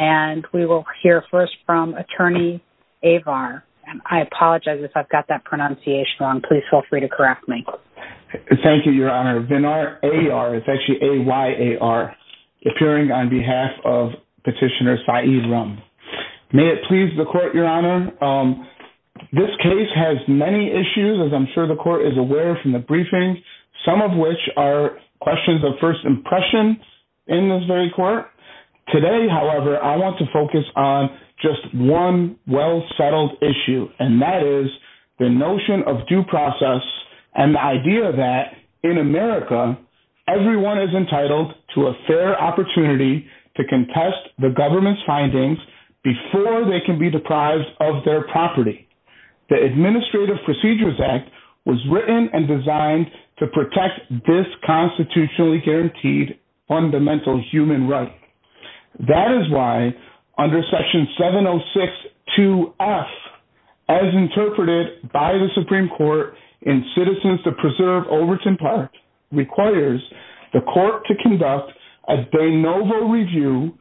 and we will hear first from attorney Avar. I apologize if I've got that pronunciation wrong. Please feel free to correct me. Thank you, Your Honor. Vinar, A-R, it's actually A-Y-A-R, appearing on behalf of petitioner Said Rum. May it please the court, Your Honor. This case has many issues, as I'm sure the court is aware from the briefing, some of which are questions of first impression in this very court. Today, however, I want to focus on just one well-settled issue, and that is the notion of due process and the idea that in America, everyone is entitled to a fair opportunity to contest the government's findings before they can be deprived of their property. The Administrative Procedures Act was written and designed to protect this constitutionally guaranteed fundamental human right. That is why under section 706.2.F, as interpreted by the Supreme Court in Citizens to Preserve Overton Park, requires the court to conduct a de novo review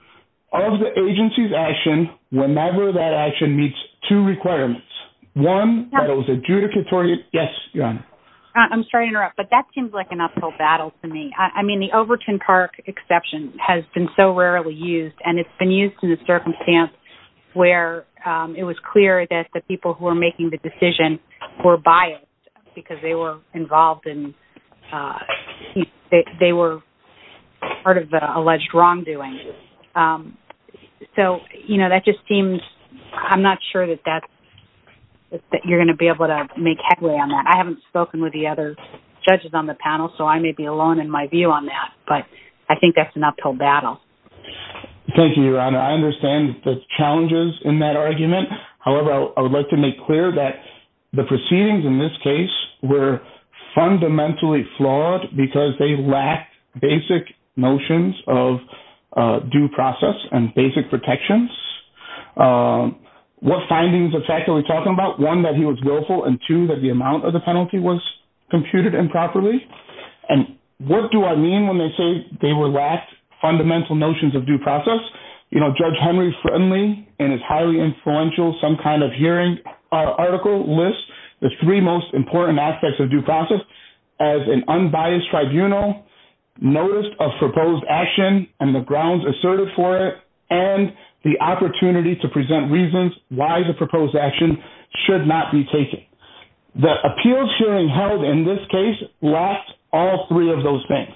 of the agency's action whenever that action meets two requirements. One, that it was adjudicatory. Yes, Your Honor. I'm sorry to interrupt, but that seems like an uphill battle to me. I mean, the Overton Park exception has been so rarely used, and it's been used in a circumstance where it was clear that the people who were making the decision were biased because they were involved in, they were part of the alleged wrongdoing. So, you know, that just seems, I'm not sure that you're going to be able to make headway on that. I haven't spoken with the other judges on the panel, so I may be alone in my view on that, but I think that's an uphill battle. Thank you, Your Honor. I understand the challenges in that argument. However, I would like to make clear that the proceedings in this case were fundamentally flawed because they lacked basic notions of due process and basic protections. What findings of fact are we talking about? One, that he was willful, and two, that the amount of the penalty was computed improperly. And what do I mean when they say they lacked fundamental notions of due process? You know, Judge Henry Friendly, in his highly influential Some Kind of Hearing article, lists the three most important aspects of due process as an unbiased tribunal, notice of proposed action and the grounds asserted for it, and the opportunity to present reasons why the proposed action should not be taken. The appeals hearing held in this case lacked all three of those things.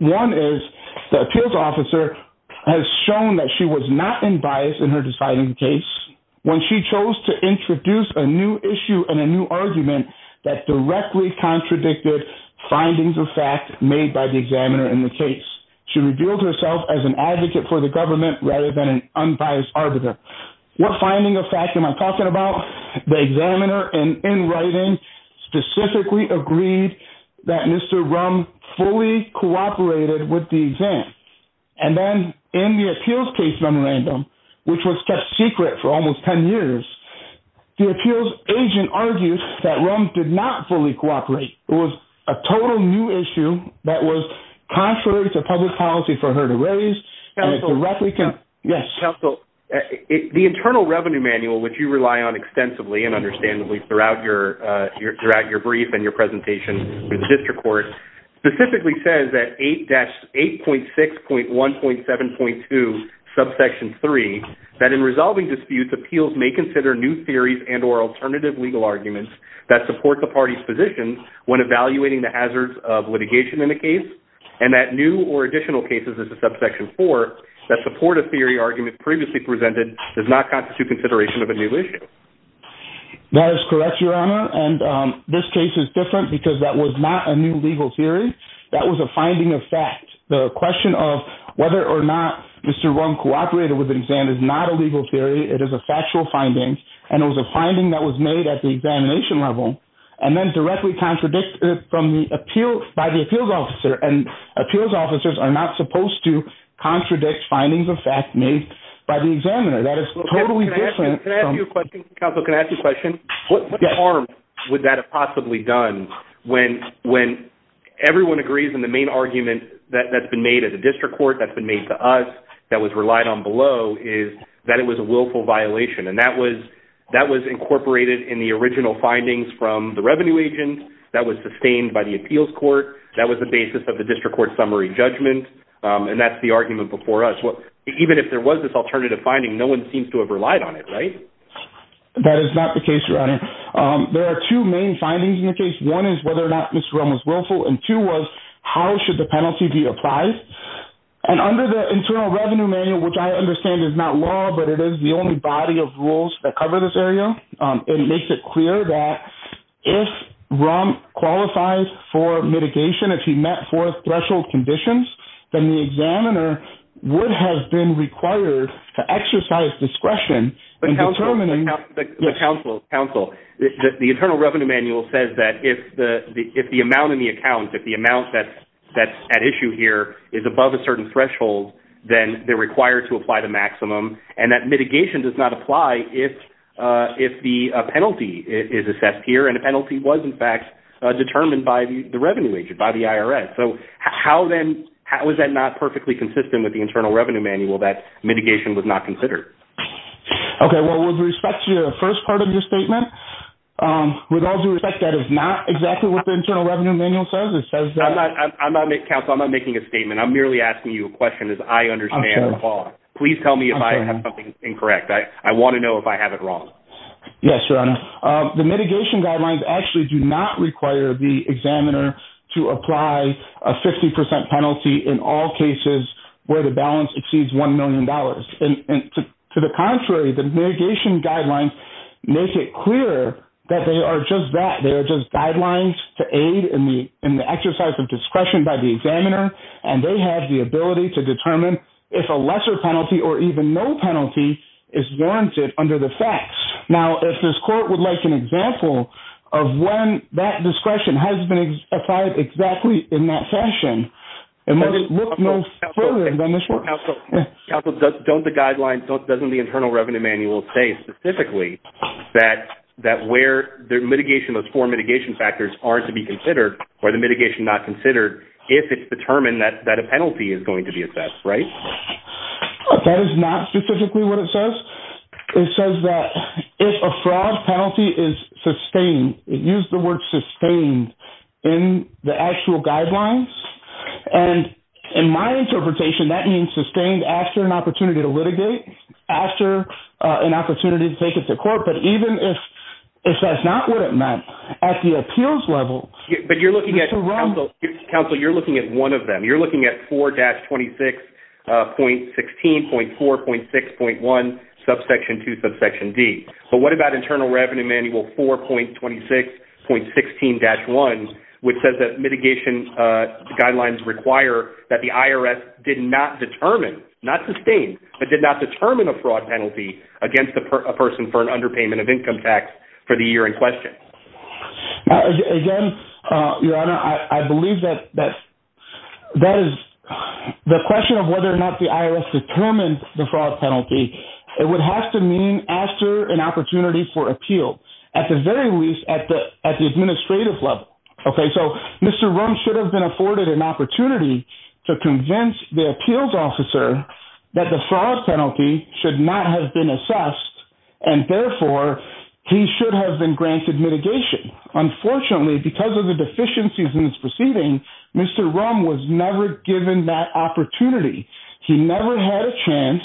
One is the appeals officer has shown that she was not unbiased in her deciding case when she chose to introduce a new issue and a new argument that directly contradicted findings of fact made by the examiner in the case. She revealed herself as an advocate for the government rather than an unbiased arbiter. What finding of fact am I talking about? The examiner, in writing, specifically agreed that Mr. Rumm fully cooperated with the exam. And then in the appeals case memorandum, which was kept secret for almost 10 years, the appeals agent argued that Rumm did not fully cooperate. It was a total new issue that was contrary to public policy for her to raise. Counsel, the Internal Revenue Manual, which you rely on extensively and understandably throughout your brief and your presentation for the district court, specifically says that 8-8.6.1.7.2, subsection 3, that in resolving disputes, appeals may consider new theories and or alternative legal arguments that support the party's position when evaluating the hazards of litigation in a case, and that new or additional cases as a subsection 4 that support a theory argument previously presented does not constitute consideration of a new issue. That is correct, Your Honor. And this case is different because that was not a new legal theory. That was a finding of fact. The question of whether or not Mr. Rumm cooperated with the exam is not a legal theory. It is a factual finding. And it was a finding that was made at the examination level and then directly contradicted by the appeals officer. And appeals officers are not supposed to contradict findings of fact made by the examiner. Counsel, can I ask you a question? What harm would that have possibly done when everyone agrees in the main argument that's been made at the district court, that's been made to us, that was relied on below is that it was a willful violation. And that was incorporated in the original findings from the revenue agent, that was sustained by the appeals court, that was the basis of the district court summary judgment, and that's the argument before us. Even if there was this alternative finding, no one seems to have relied on it, right? That is not the case, Your Honor. There are two main findings in the case. One is whether or not Mr. Rumm was willful, and two was how should the penalty be applied. And under the Internal Revenue Manual, which I understand is not law, but it is the only body of rules that cover this area, it makes it clear that if Rumm qualifies for mitigation, if he met four threshold conditions, then the examiner would have been required to exercise discretion. Counsel, the Internal Revenue Manual says that if the amount in the account, if the amount that's at issue here is above a certain threshold, then they're required to apply the maximum. And that mitigation does not apply if the penalty is assessed here, and the penalty was in fact determined by the revenue agent, by the IRS. So how then was that not perfectly consistent with the Internal Revenue Manual that mitigation was not considered? Okay, well, with respect to the first part of your statement, with all due respect, that is not exactly what the Internal Revenue Manual says. Counsel, I'm not making a statement. I'm merely asking you a question as I understand the law. Please tell me if I have something incorrect. I want to know if I have it wrong. Yes, Your Honor. The mitigation guidelines actually do not require the examiner to apply a 50% penalty in all cases where the balance exceeds $1 million. To the contrary, the mitigation guidelines make it clear that they are just that. They are just guidelines to aid in the exercise of discretion by the examiner, and they have the ability to determine if a lesser penalty or even no penalty is warranted under the facts. Now, if this court would like an example of when that discretion has been applied exactly in that fashion, it must look no further than this one. Counsel, doesn't the Internal Revenue Manual say specifically that where those four mitigation factors are to be considered or the mitigation not considered if it's determined that a penalty is going to be assessed, right? That is not specifically what it says. It says that if a fraud penalty is sustained, it used the word sustained in the actual guidelines. In my interpretation, that means sustained after an opportunity to litigate, after an opportunity to take it to court. But even if that's not what it meant, at the appeals level— But you're looking at— Counsel, you're looking at one of them. You're looking at 4-26.16.4.6.1, subsection 2, subsection D. But what about Internal Revenue Manual 4.26.16-1, which says that mitigation guidelines require that the IRS did not determine, not sustain, but did not determine a fraud penalty against a person for an underpayment of income tax for the year in question? Again, Your Honor, I believe that that is—the question of whether or not the IRS determined the fraud penalty, it would have to mean after an opportunity for appeal. At the very least, at the administrative level. Okay, so Mr. Rumm should have been afforded an opportunity to convince the appeals officer that the fraud penalty should not have been assessed, and therefore, he should have been granted mitigation. Unfortunately, because of the deficiencies in this proceeding, Mr. Rumm was never given that opportunity. He never had a chance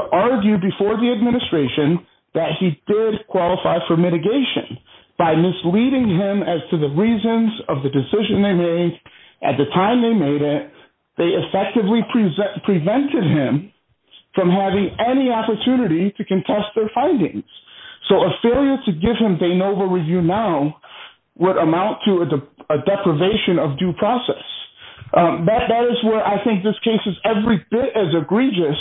to argue before the administration that he did qualify for mitigation. By misleading him as to the reasons of the decision they made at the time they made it, they effectively prevented him from having any opportunity to contest their findings. So a failure to give him de novo review now would amount to a deprivation of due process. That is where I think this case is every bit as egregious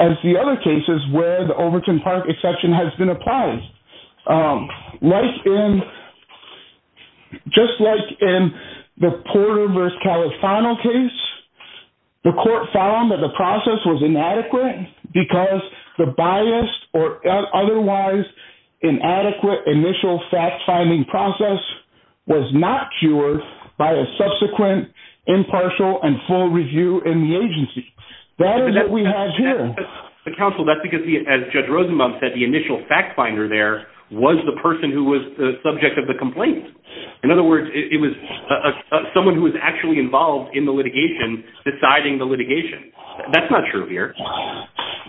as the other cases where the Overton Park exception has been applied. Just like in the Porter v. Califano case, the court found that the process was inadequate because the biased or otherwise inadequate initial fact-finding process was not cured by a subsequent impartial and full review in the agency. That is what we have here. But counsel, that's because, as Judge Rosenbaum said, the initial fact-finder there was the person who was the subject of the complaint. In other words, it was someone who was actually involved in the litigation deciding the litigation. That's not true here.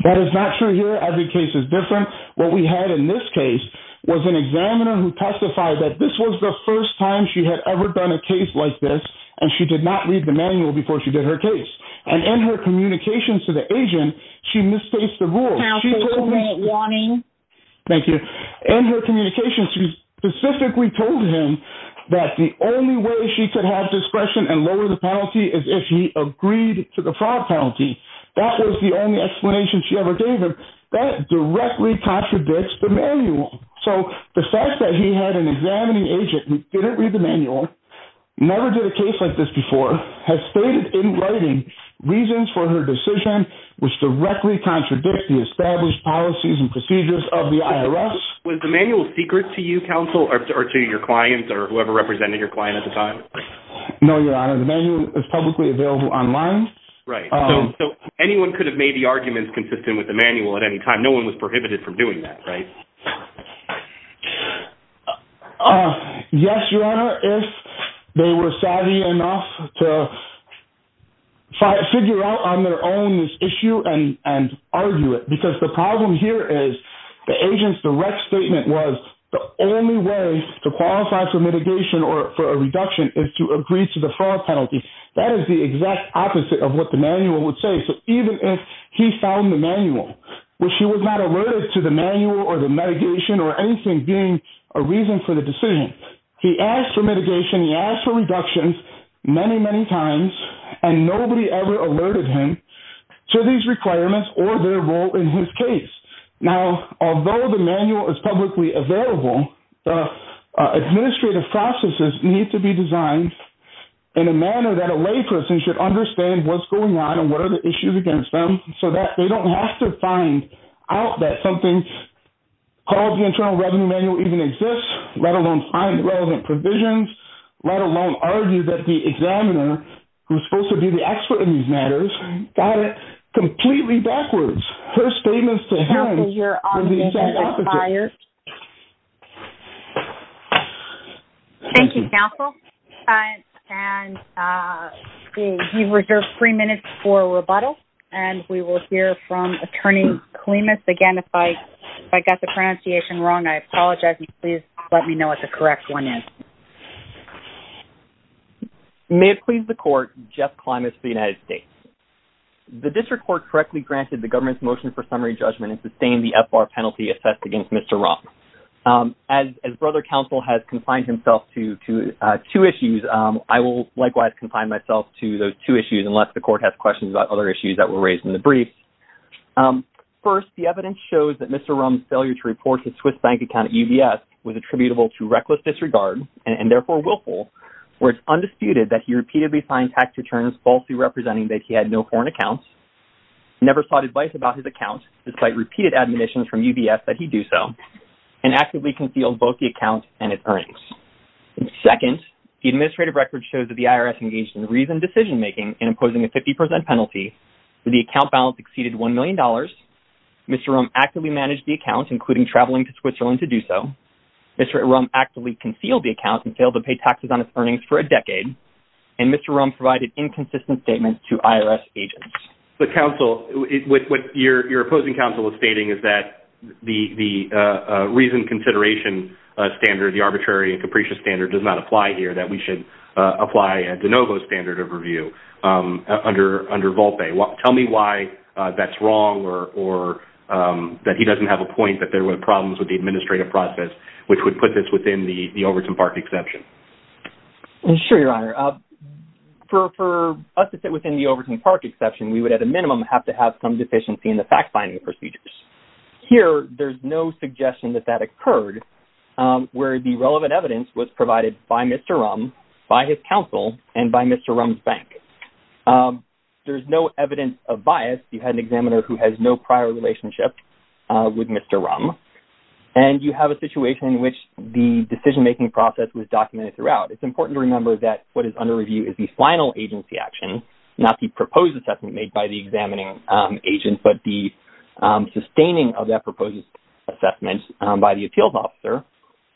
That is not true here. Every case is different. What we had in this case was an examiner who testified that this was the first time she had ever done a case like this, and she did not read the manual before she did her case. And in her communications to the agent, she misplaced the rules. Counsel, one minute warning. Thank you. In her communications, she specifically told him that the only way she could have discretion and lower the penalty is if he agreed to the fraud penalty. That was the only explanation she ever gave him. That directly contradicts the manual. So the fact that he had an examining agent who didn't read the manual, never did a case like this before, has stated in writing reasons for her decision which directly contradict the established policies and procedures of the IRS. Was the manual secret to you, counsel, or to your clients or whoever represented your client at the time? No, Your Honor. The manual is publicly available online. Right. So anyone could have made the arguments consistent with the manual at any time. No one was prohibited from doing that, right? Yes, Your Honor, if they were savvy enough to figure out on their own this issue and argue it. Because the problem here is the agent's direct statement was the only way to qualify for mitigation or for a reduction is to agree to the fraud penalty. That is the exact opposite of what the manual would say. So even if he found the manual, which he was not alerted to the manual or the mitigation or anything being a reason for the decision, he asked for mitigation, he asked for reductions many, many times, and nobody ever alerted him to these requirements or their role in his case. Now, although the manual is publicly available, the administrative processes need to be designed in a manner that a layperson should understand what's going on and what are the issues against them so that they don't have to find out that something called the Internal Revenue Manual even exists, let alone find relevant provisions, let alone argue that the examiner, who is supposed to be the expert in these matters, got it completely backwards. Her statement to him is the exact opposite. Thank you, counsel. And we reserve three minutes for rebuttal, and we will hear from Attorney Clements again. If I got the pronunciation wrong, I apologize, and please let me know what the correct one is. May it please the court, Jeff Clements of the United States. The district court correctly granted the government's motion for summary judgment and sustained the FBAR penalty assessed against Mr. Rumm. As brother counsel has confined himself to two issues, I will likewise confine myself to those two issues unless the court has questions about other issues that were raised in the brief. First, the evidence shows that Mr. Rumm's failure to report his Swiss bank account at UBS was attributable to reckless disregard and, therefore, willful, where it's undisputed that he repeatedly signed tax returns falsely representing that he had no foreign account, never sought advice about his account, despite repeated admonitions from UBS that he do so, and actively concealed both the account and its earnings. Second, the administrative record shows that the IRS engaged in reasoned decision-making in imposing a 50 percent penalty, where the account balance exceeded $1 million. Mr. Rumm actively managed the account, including traveling to Switzerland to do so. Mr. Rumm actively concealed the account and failed to pay taxes on his earnings for a decade. And Mr. Rumm provided inconsistent statements to IRS agents. But, counsel, what your opposing counsel is stating is that the reasoned consideration standard, the arbitrary and capricious standard, does not apply here, that we should apply a de novo standard of review under Volpe. Tell me why that's wrong or that he doesn't have a point that there were problems with the administrative process which would put this within the Overton Park exception. Sure, Your Honor. For us to sit within the Overton Park exception, we would, at a minimum, have to have some deficiency in the fact-finding procedures. Here, there's no suggestion that that occurred where the relevant evidence was provided by Mr. Rumm, by his counsel, and by Mr. Rumm's bank. There's no evidence of bias. You had an examiner who has no prior relationship with Mr. Rumm. And you have a situation in which the decision-making process was documented throughout. It's important to remember that what is under review is the final agency action, not the proposed assessment made by the examining agent, but the sustaining of that proposed assessment by the appeals officer.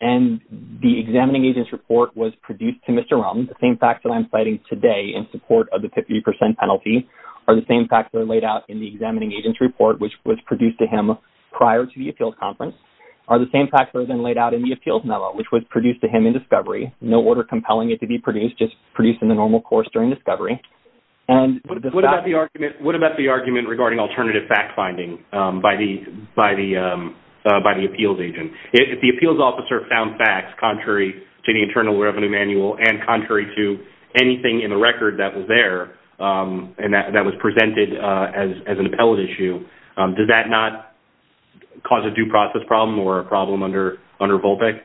And the examining agent's report was produced to Mr. Rumm. The same facts that I'm citing today in support of the 50% penalty are the same facts that are laid out in the examining agent's report, which was produced to him prior to the appeals conference, are the same facts that are then laid out in the appeals memo, which was produced to him in discovery. No order compelling it to be produced, just produced in the normal course during discovery. What about the argument regarding alternative fact-finding by the appeals agent? If the appeals officer found facts contrary to the Internal Revenue Manual and contrary to anything in the record that was there and that was presented as an appellate issue, does that not cause a due process problem or a problem under Volpec?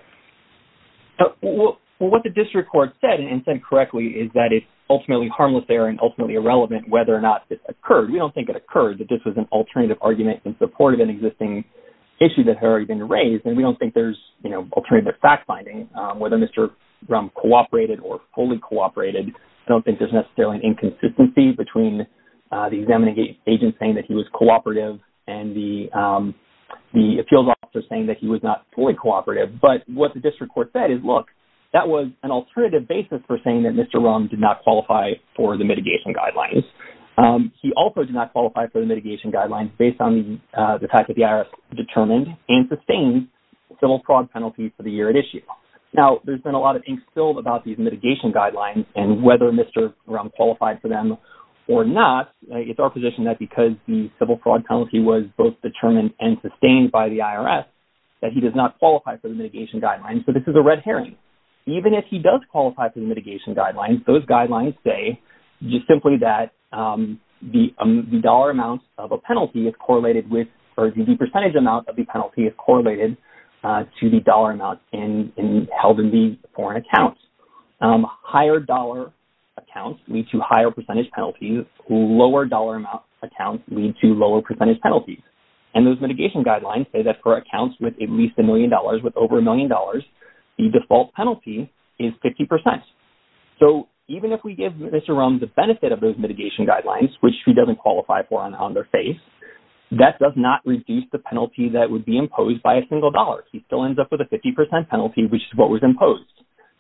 What the district court said, and said correctly, is that it's ultimately harmless error and ultimately irrelevant whether or not this occurred. We don't think it occurred, that this was an alternative argument in support of an existing issue that had already been raised. And we don't think there's alternative fact-finding, whether Mr. Rumm cooperated or fully cooperated. I don't think there's necessarily an inconsistency between the examining agent saying that he was cooperative and the appeals officer saying that he was not fully cooperative. But what the district court said is, look, that was an alternative basis for saying that Mr. Rumm did not qualify for the mitigation guidelines. He also did not qualify for the mitigation guidelines based on the fact that the IRS determined and sustained civil fraud penalties for the year at issue. Now, there's been a lot of ink spilled about these mitigation guidelines and whether Mr. Rumm qualified for them or not. It's our position that because the civil fraud penalty was both determined and sustained by the IRS, that he does not qualify for the mitigation guidelines. So, this is a red herring. Even if he does qualify for the mitigation guidelines, those guidelines say just simply that the dollar amount of a penalty is correlated with or the percentage amount of the penalty is correlated to the dollar amount held in the foreign accounts. Higher dollar accounts lead to higher percentage penalties. Lower dollar amount accounts lead to lower percentage penalties. And those mitigation guidelines say that for accounts with at least a million dollars, with over a million dollars, the default penalty is 50%. So, even if we give Mr. Rumm the benefit of those mitigation guidelines, which he doesn't qualify for on their face, that does not reduce the penalty that would be imposed by a single dollar. He still ends up with a 50% penalty, which is what was imposed.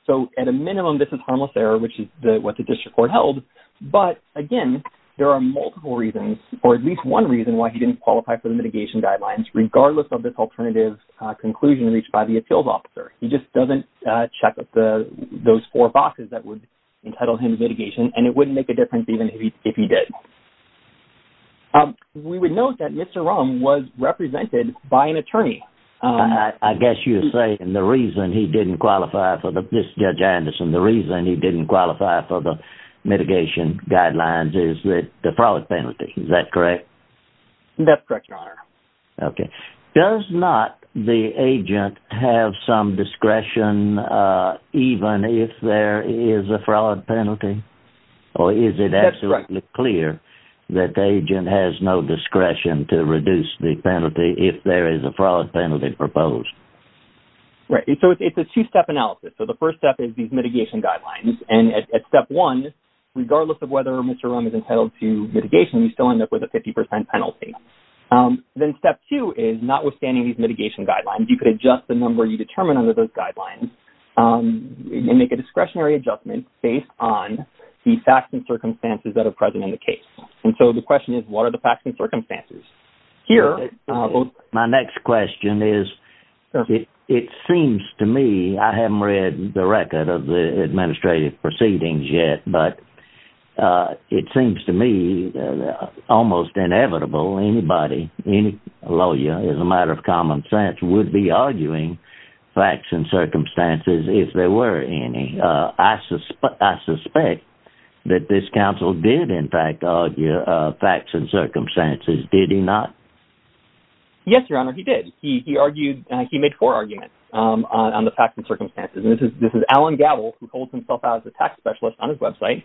So, at a minimum, this is harmless error, which is what the district court held. But, again, there are multiple reasons, or at least one reason why he didn't qualify for the mitigation guidelines, regardless of this alternative conclusion reached by the appeals officer. He just doesn't check those four boxes that would entitle him to mitigation, and it wouldn't make a difference even if he did. We would note that Mr. Rumm was represented by an attorney. I guess you're saying the reason he didn't qualify for the—this is Judge Anderson—the reason he didn't qualify for the mitigation guidelines is the fraud penalty. Is that correct? That's correct, Your Honor. Okay. Does not the agent have some discretion, even if there is a fraud penalty? That's right. Or is it absolutely clear that the agent has no discretion to reduce the penalty if there is a fraud penalty proposed? Right. So, it's a two-step analysis. So, the first step is these mitigation guidelines. And at step one, regardless of whether Mr. Rumm is entitled to mitigation, you still end up with a 50% penalty. Then step two is, notwithstanding these mitigation guidelines, you could adjust the number you determine under those guidelines and make a discretionary adjustment based on the facts and circumstances that are present in the case. And so, the question is, what are the facts and circumstances? My next question is, it seems to me—I haven't read the record of the administrative proceedings yet—but it seems to me almost inevitable anybody, any lawyer, as a matter of common sense, would be arguing facts and circumstances if there were any. I suspect that this counsel did, in fact, argue facts and circumstances. Did he not? Yes, Your Honor, he did. He made four arguments on the facts and circumstances. And this is Alan Gabel, who holds himself out as a tax specialist on his website.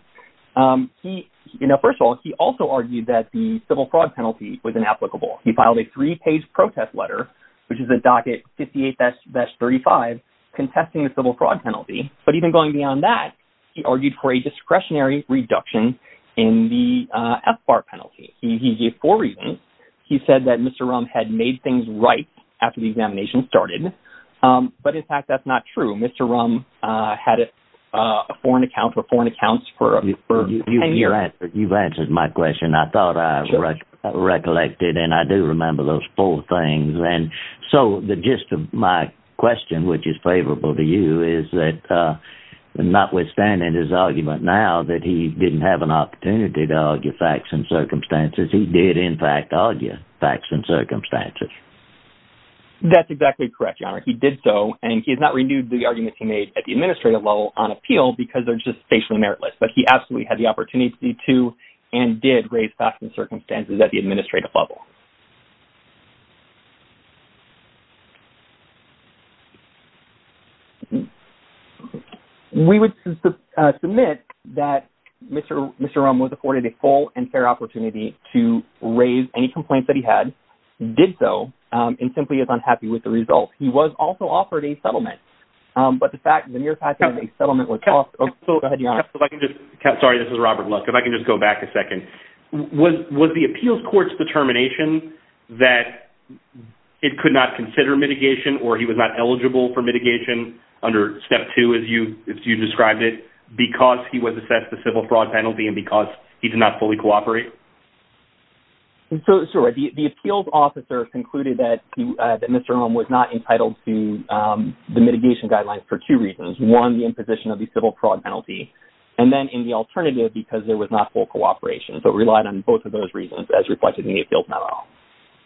First of all, he also argued that the civil fraud penalty was inapplicable. He filed a three-page protest letter, which is a docket 58-35, contesting the civil fraud penalty. But even going beyond that, he argued for a discretionary reduction in the FBAR penalty. He gave four reasons. He said that Mr. Rumm had made things right after the examination started. But, in fact, that's not true. Mr. Rumm had a foreign account for 10 years. You've answered my question. I thought I recollected, and I do remember those four things. And so the gist of my question, which is favorable to you, is that, notwithstanding his argument now that he didn't have an opportunity to argue facts and circumstances, he did, in fact, argue facts and circumstances. That's exactly correct, Your Honor. He did so, and he has not renewed the arguments he made at the administrative level on appeal because they're just spatially meritless. But he absolutely had the opportunity to and did raise facts and circumstances at the administrative level. We would submit that Mr. Rumm was afforded a full and fair opportunity to raise any complaints that he had, did so, and simply is unhappy with the results. He was also offered a settlement, but the fact that he was offered a settlement was also... Go ahead, Your Honor. Sorry, this is Robert Luck. If I can just go back a second. Was the appeals court's determination that it could not consider mitigation or he was not eligible for mitigation under Step 2, as you described it, because he was assessed the civil fraud penalty and because he did not fully cooperate? So, the appeals officer concluded that Mr. Rumm was not entitled to the mitigation guidelines for two reasons. One, the imposition of the civil fraud penalty, and then, in the alternative, because there was not full cooperation. So, it relied on both of those reasons as reflected in the appeals memo.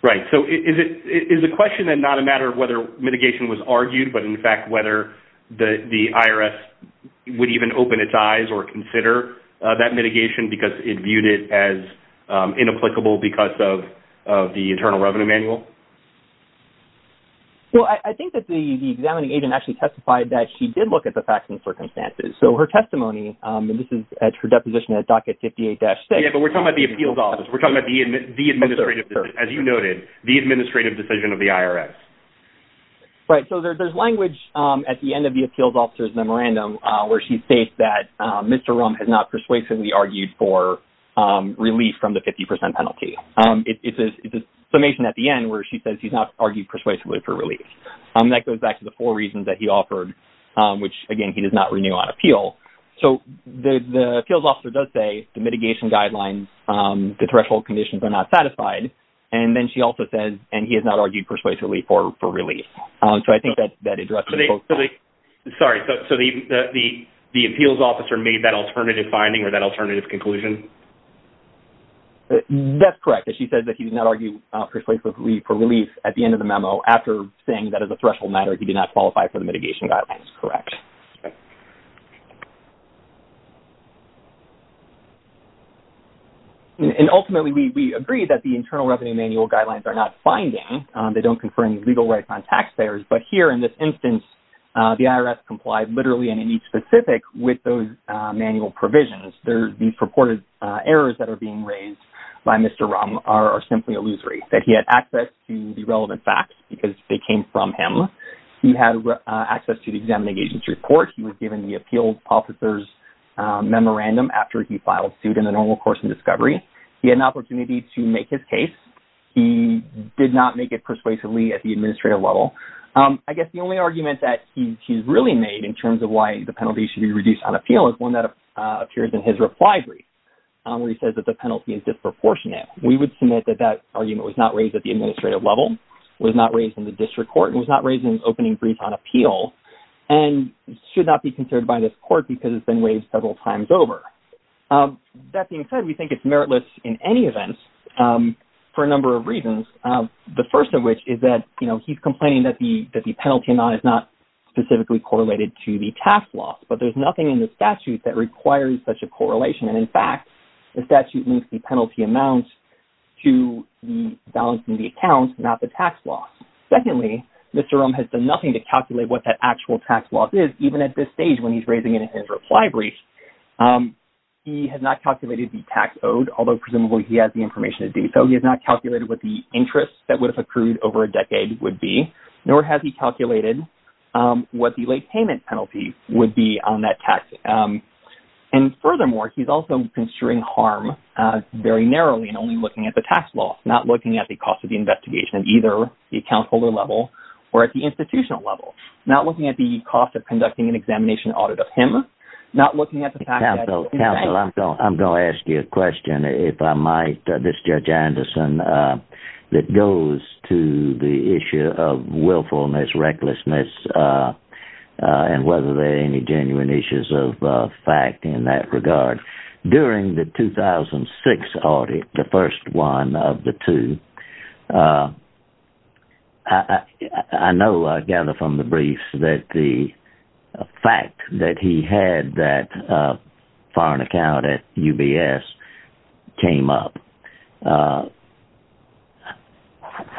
Right. So, is the question then not a matter of whether mitigation was argued, but, in fact, whether the IRS would even open its eyes or consider that mitigation because it viewed it as inapplicable because of the Internal Revenue Manual? Well, I think that the examining agent actually testified that she did look at the facts and circumstances. So, her testimony, and this is at her deposition at Docket 58-6... But we're talking about the appeals office. We're talking about the administrative, as you noted, the administrative decision of the IRS. Right. So, there's language at the end of the appeals officer's memorandum where she states that Mr. Rumm had not persuasively argued for relief from the 50% penalty. It's a summation at the end where she says he's not argued persuasively for relief. That goes back to the four reasons that he offered, which, again, he does not renew on appeal. So, the appeals officer does say the mitigation guidelines, the threshold conditions are not satisfied. And then she also says, and he has not argued persuasively for relief. So, I think that addresses... Sorry. So, the appeals officer made that alternative finding or that alternative conclusion? That's correct. She says that he did not argue persuasively for relief at the end of the memo after saying that, as a threshold matter, he did not qualify for the mitigation guidelines. Correct. And ultimately, we agree that the Internal Revenue Manual guidelines are not binding. They don't confer any legal rights on taxpayers. But here, in this instance, the IRS complied literally and in each specific with those manual provisions. These purported errors that are being raised by Mr. Rumm are simply illusory, that he had access to the relevant facts because they came from him. He had access to the examining agency report. He was given the appeals officer's memorandum after he filed suit in the normal course of discovery. He had an opportunity to make his case. He did not make it persuasively at the administrative level. I guess the only argument that he's really made in terms of why the penalty should be reduced on appeal is one that appears in his reply brief, where he says that the penalty is disproportionate. We would submit that that argument was not raised at the administrative level, was not raised in the district court, and was not raised in his opening brief on appeal. And should not be considered by this court because it's been raised several times over. That being said, we think it's meritless in any event for a number of reasons. The first of which is that, you know, he's complaining that the penalty amount is not specifically correlated to the tax loss. But there's nothing in the statute that requires such a correlation. And, in fact, the statute links the penalty amount to the balance in the account, not the tax loss. Secondly, Mr. Ruhm has done nothing to calculate what that actual tax loss is, even at this stage when he's raising it in his reply brief. He has not calculated the tax owed, although presumably he has the information to do so. He has not calculated what the interest that would have accrued over a decade would be, nor has he calculated what the late payment penalty would be on that tax. And, furthermore, he's also construing harm very narrowly and only looking at the tax loss. Not looking at the cost of the investigation at either the account holder level or at the institutional level. Not looking at the cost of conducting an examination audit of him. Not looking at the fact that- Counsel, I'm going to ask you a question, if I might. This is Judge Anderson. It goes to the issue of willfulness, recklessness, and whether there are any genuine issues of fact in that regard. During the 2006 audit, the first one of the two, I know, I gather from the briefs, that the fact that he had that foreign account at UBS came up.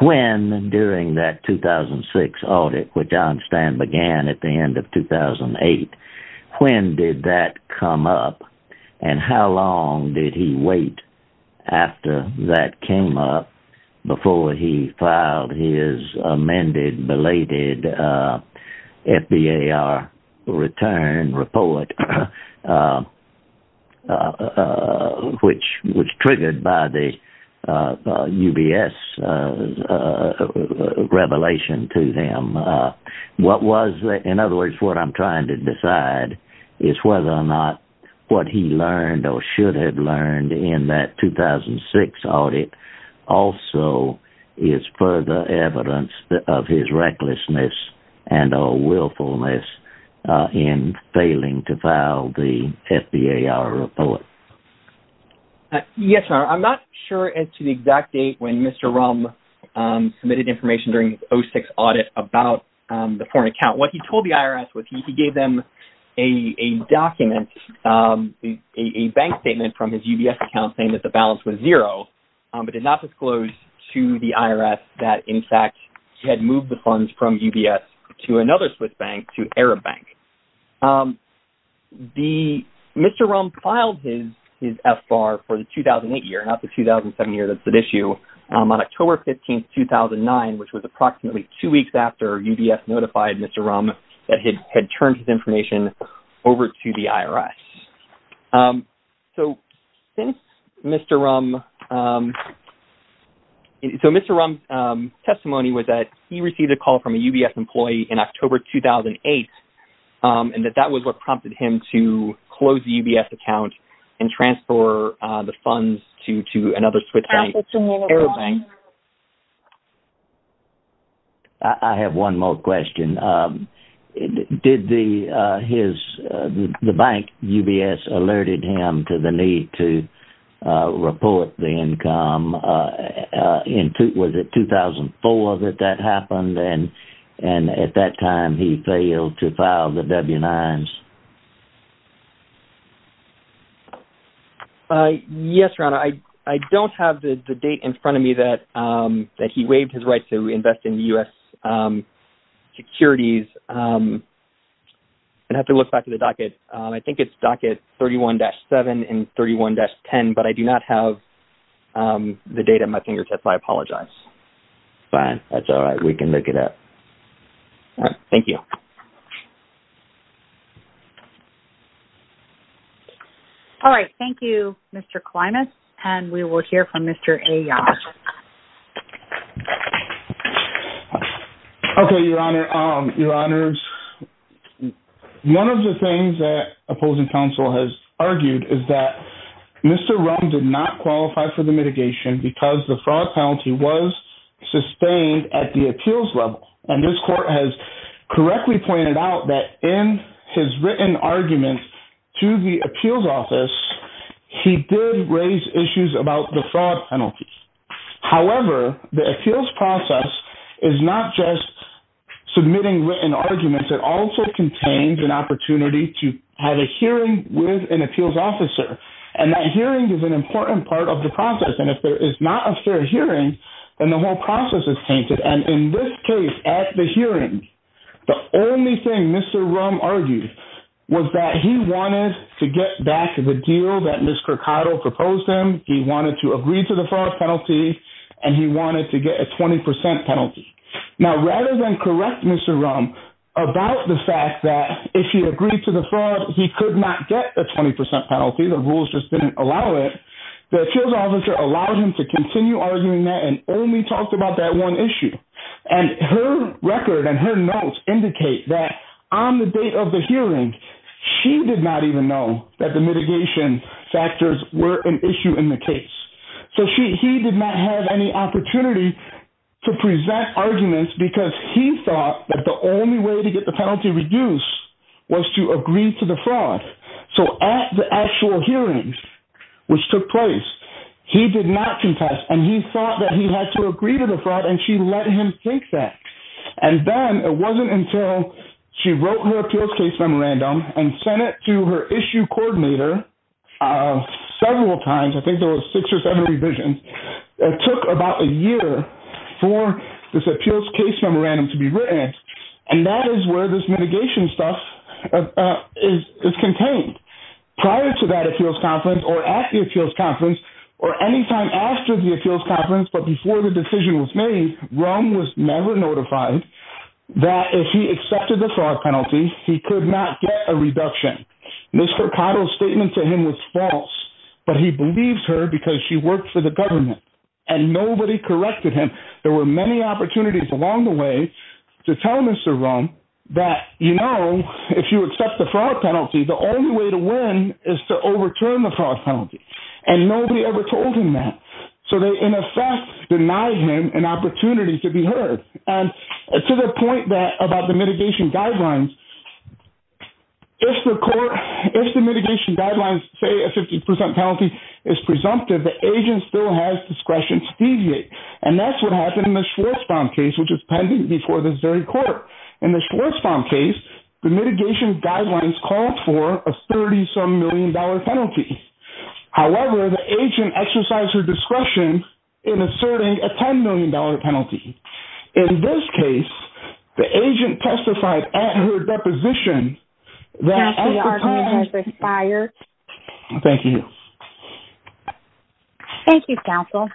When, during that 2006 audit, which I understand began at the end of 2008, when did that come up? And how long did he wait after that came up before he filed his amended, belated FBAR return report, which was triggered by the UBS revelation to him? What was, in other words, what I'm trying to decide is whether or not what he learned or should have learned in that 2006 audit also is further evidence of his recklessness and or willfulness in failing to file the FBAR report. Yes, Your Honor. I'm not sure as to the exact date when Mr. Rumm submitted information during the 2006 audit about the foreign account. What he told the IRS was he gave them a document, a bank statement from his UBS account saying that the balance was zero, but did not disclose to the IRS that, in fact, he had moved the funds from UBS to another Swiss bank, to Arab Bank. Mr. Rumm filed his FBAR for the 2008 year, not the 2007 year that's at issue, on October 15, 2009, which was approximately two weeks after UBS notified Mr. Rumm that he had turned his information over to the IRS. So, Mr. Rumm's testimony was that he received a call from a UBS employee in October 2008 and that that was what prompted him to close the UBS account and transfer the funds to another Swiss bank, Arab Bank. I have one more question. Did the bank UBS alerted him to the need to report the income? Was it 2004 that that happened and at that time he failed to file the W-9s? Yes, Ron. I don't have the date in front of me that he waived his right to invest in U.S. securities. I'd have to look back at the docket. I think it's docket 31-7 and 31-10, but I do not have the date at my fingertips. I apologize. Fine. That's all right. We can look it up. Thank you. All right. Thank you, Mr. Klimas. And we will hear from Mr. Ayyad. Okay, Your Honor. One of the things that opposing counsel has argued is that Mr. Rumm did not qualify for the mitigation because the fraud penalty was sustained at the appeals level. And this court has correctly pointed out that in his written argument to the appeals office, he did raise issues about the fraud penalty. However, the appeals process is not just submitting written arguments. It also contains an opportunity to have a hearing with an appeals officer, and that hearing is an important part of the process. And if there is not a fair hearing, then the whole process is tainted. And in this case, at the hearing, the only thing Mr. Rumm argued was that he wanted to get back to the deal that Ms. Kerkato proposed him. He wanted to agree to the fraud penalty, and he wanted to get a 20 percent penalty. Now, rather than correct Mr. Rumm about the fact that if he agreed to the fraud, he could not get the 20 percent penalty, the rules just didn't allow it, the appeals officer allowed him to continue arguing that and only talked about that one issue. And her record and her notes indicate that on the date of the hearing, she did not even know that the mitigation factors were an issue in the case. So, he did not have any opportunity to present arguments because he thought that the only way to get the penalty reduced was to agree to the fraud. So, at the actual hearings, which took place, he did not contest, and he thought that he had to agree to the fraud, and she let him take that. And then, it wasn't until she wrote her appeals case memorandum and sent it to her issue coordinator several times, I think there were six or seven revisions, it took about a year for this appeals case memorandum to be written, and that is where this mitigation stuff is contained. Prior to that appeals conference, or at the appeals conference, or any time after the appeals conference, but before the decision was made, Rumm was never notified that if he accepted the fraud penalty, he could not get a reduction. Mr. Cotto's statement to him was false, but he believed her because she worked for the government, and nobody corrected him. There were many opportunities along the way to tell Mr. Rumm that, you know, if you accept the fraud penalty, the only way to win is to overturn the fraud penalty, and nobody ever told him that. So, they, in effect, denied him an opportunity to be heard. And to the point about the mitigation guidelines, if the mitigation guidelines say a 50% penalty is presumptive, the agent still has discretion to deviate, and that's what happened in the Schwartzbaum case, which is pending before this very court. In the Schwartzbaum case, the mitigation guidelines called for a $30-some million penalty. However, the agent exercised her discretion in asserting a $10 million penalty. In this case, the agent testified at her deposition that… Counsel, your argument has expired. Thank you. Thank you, counsel.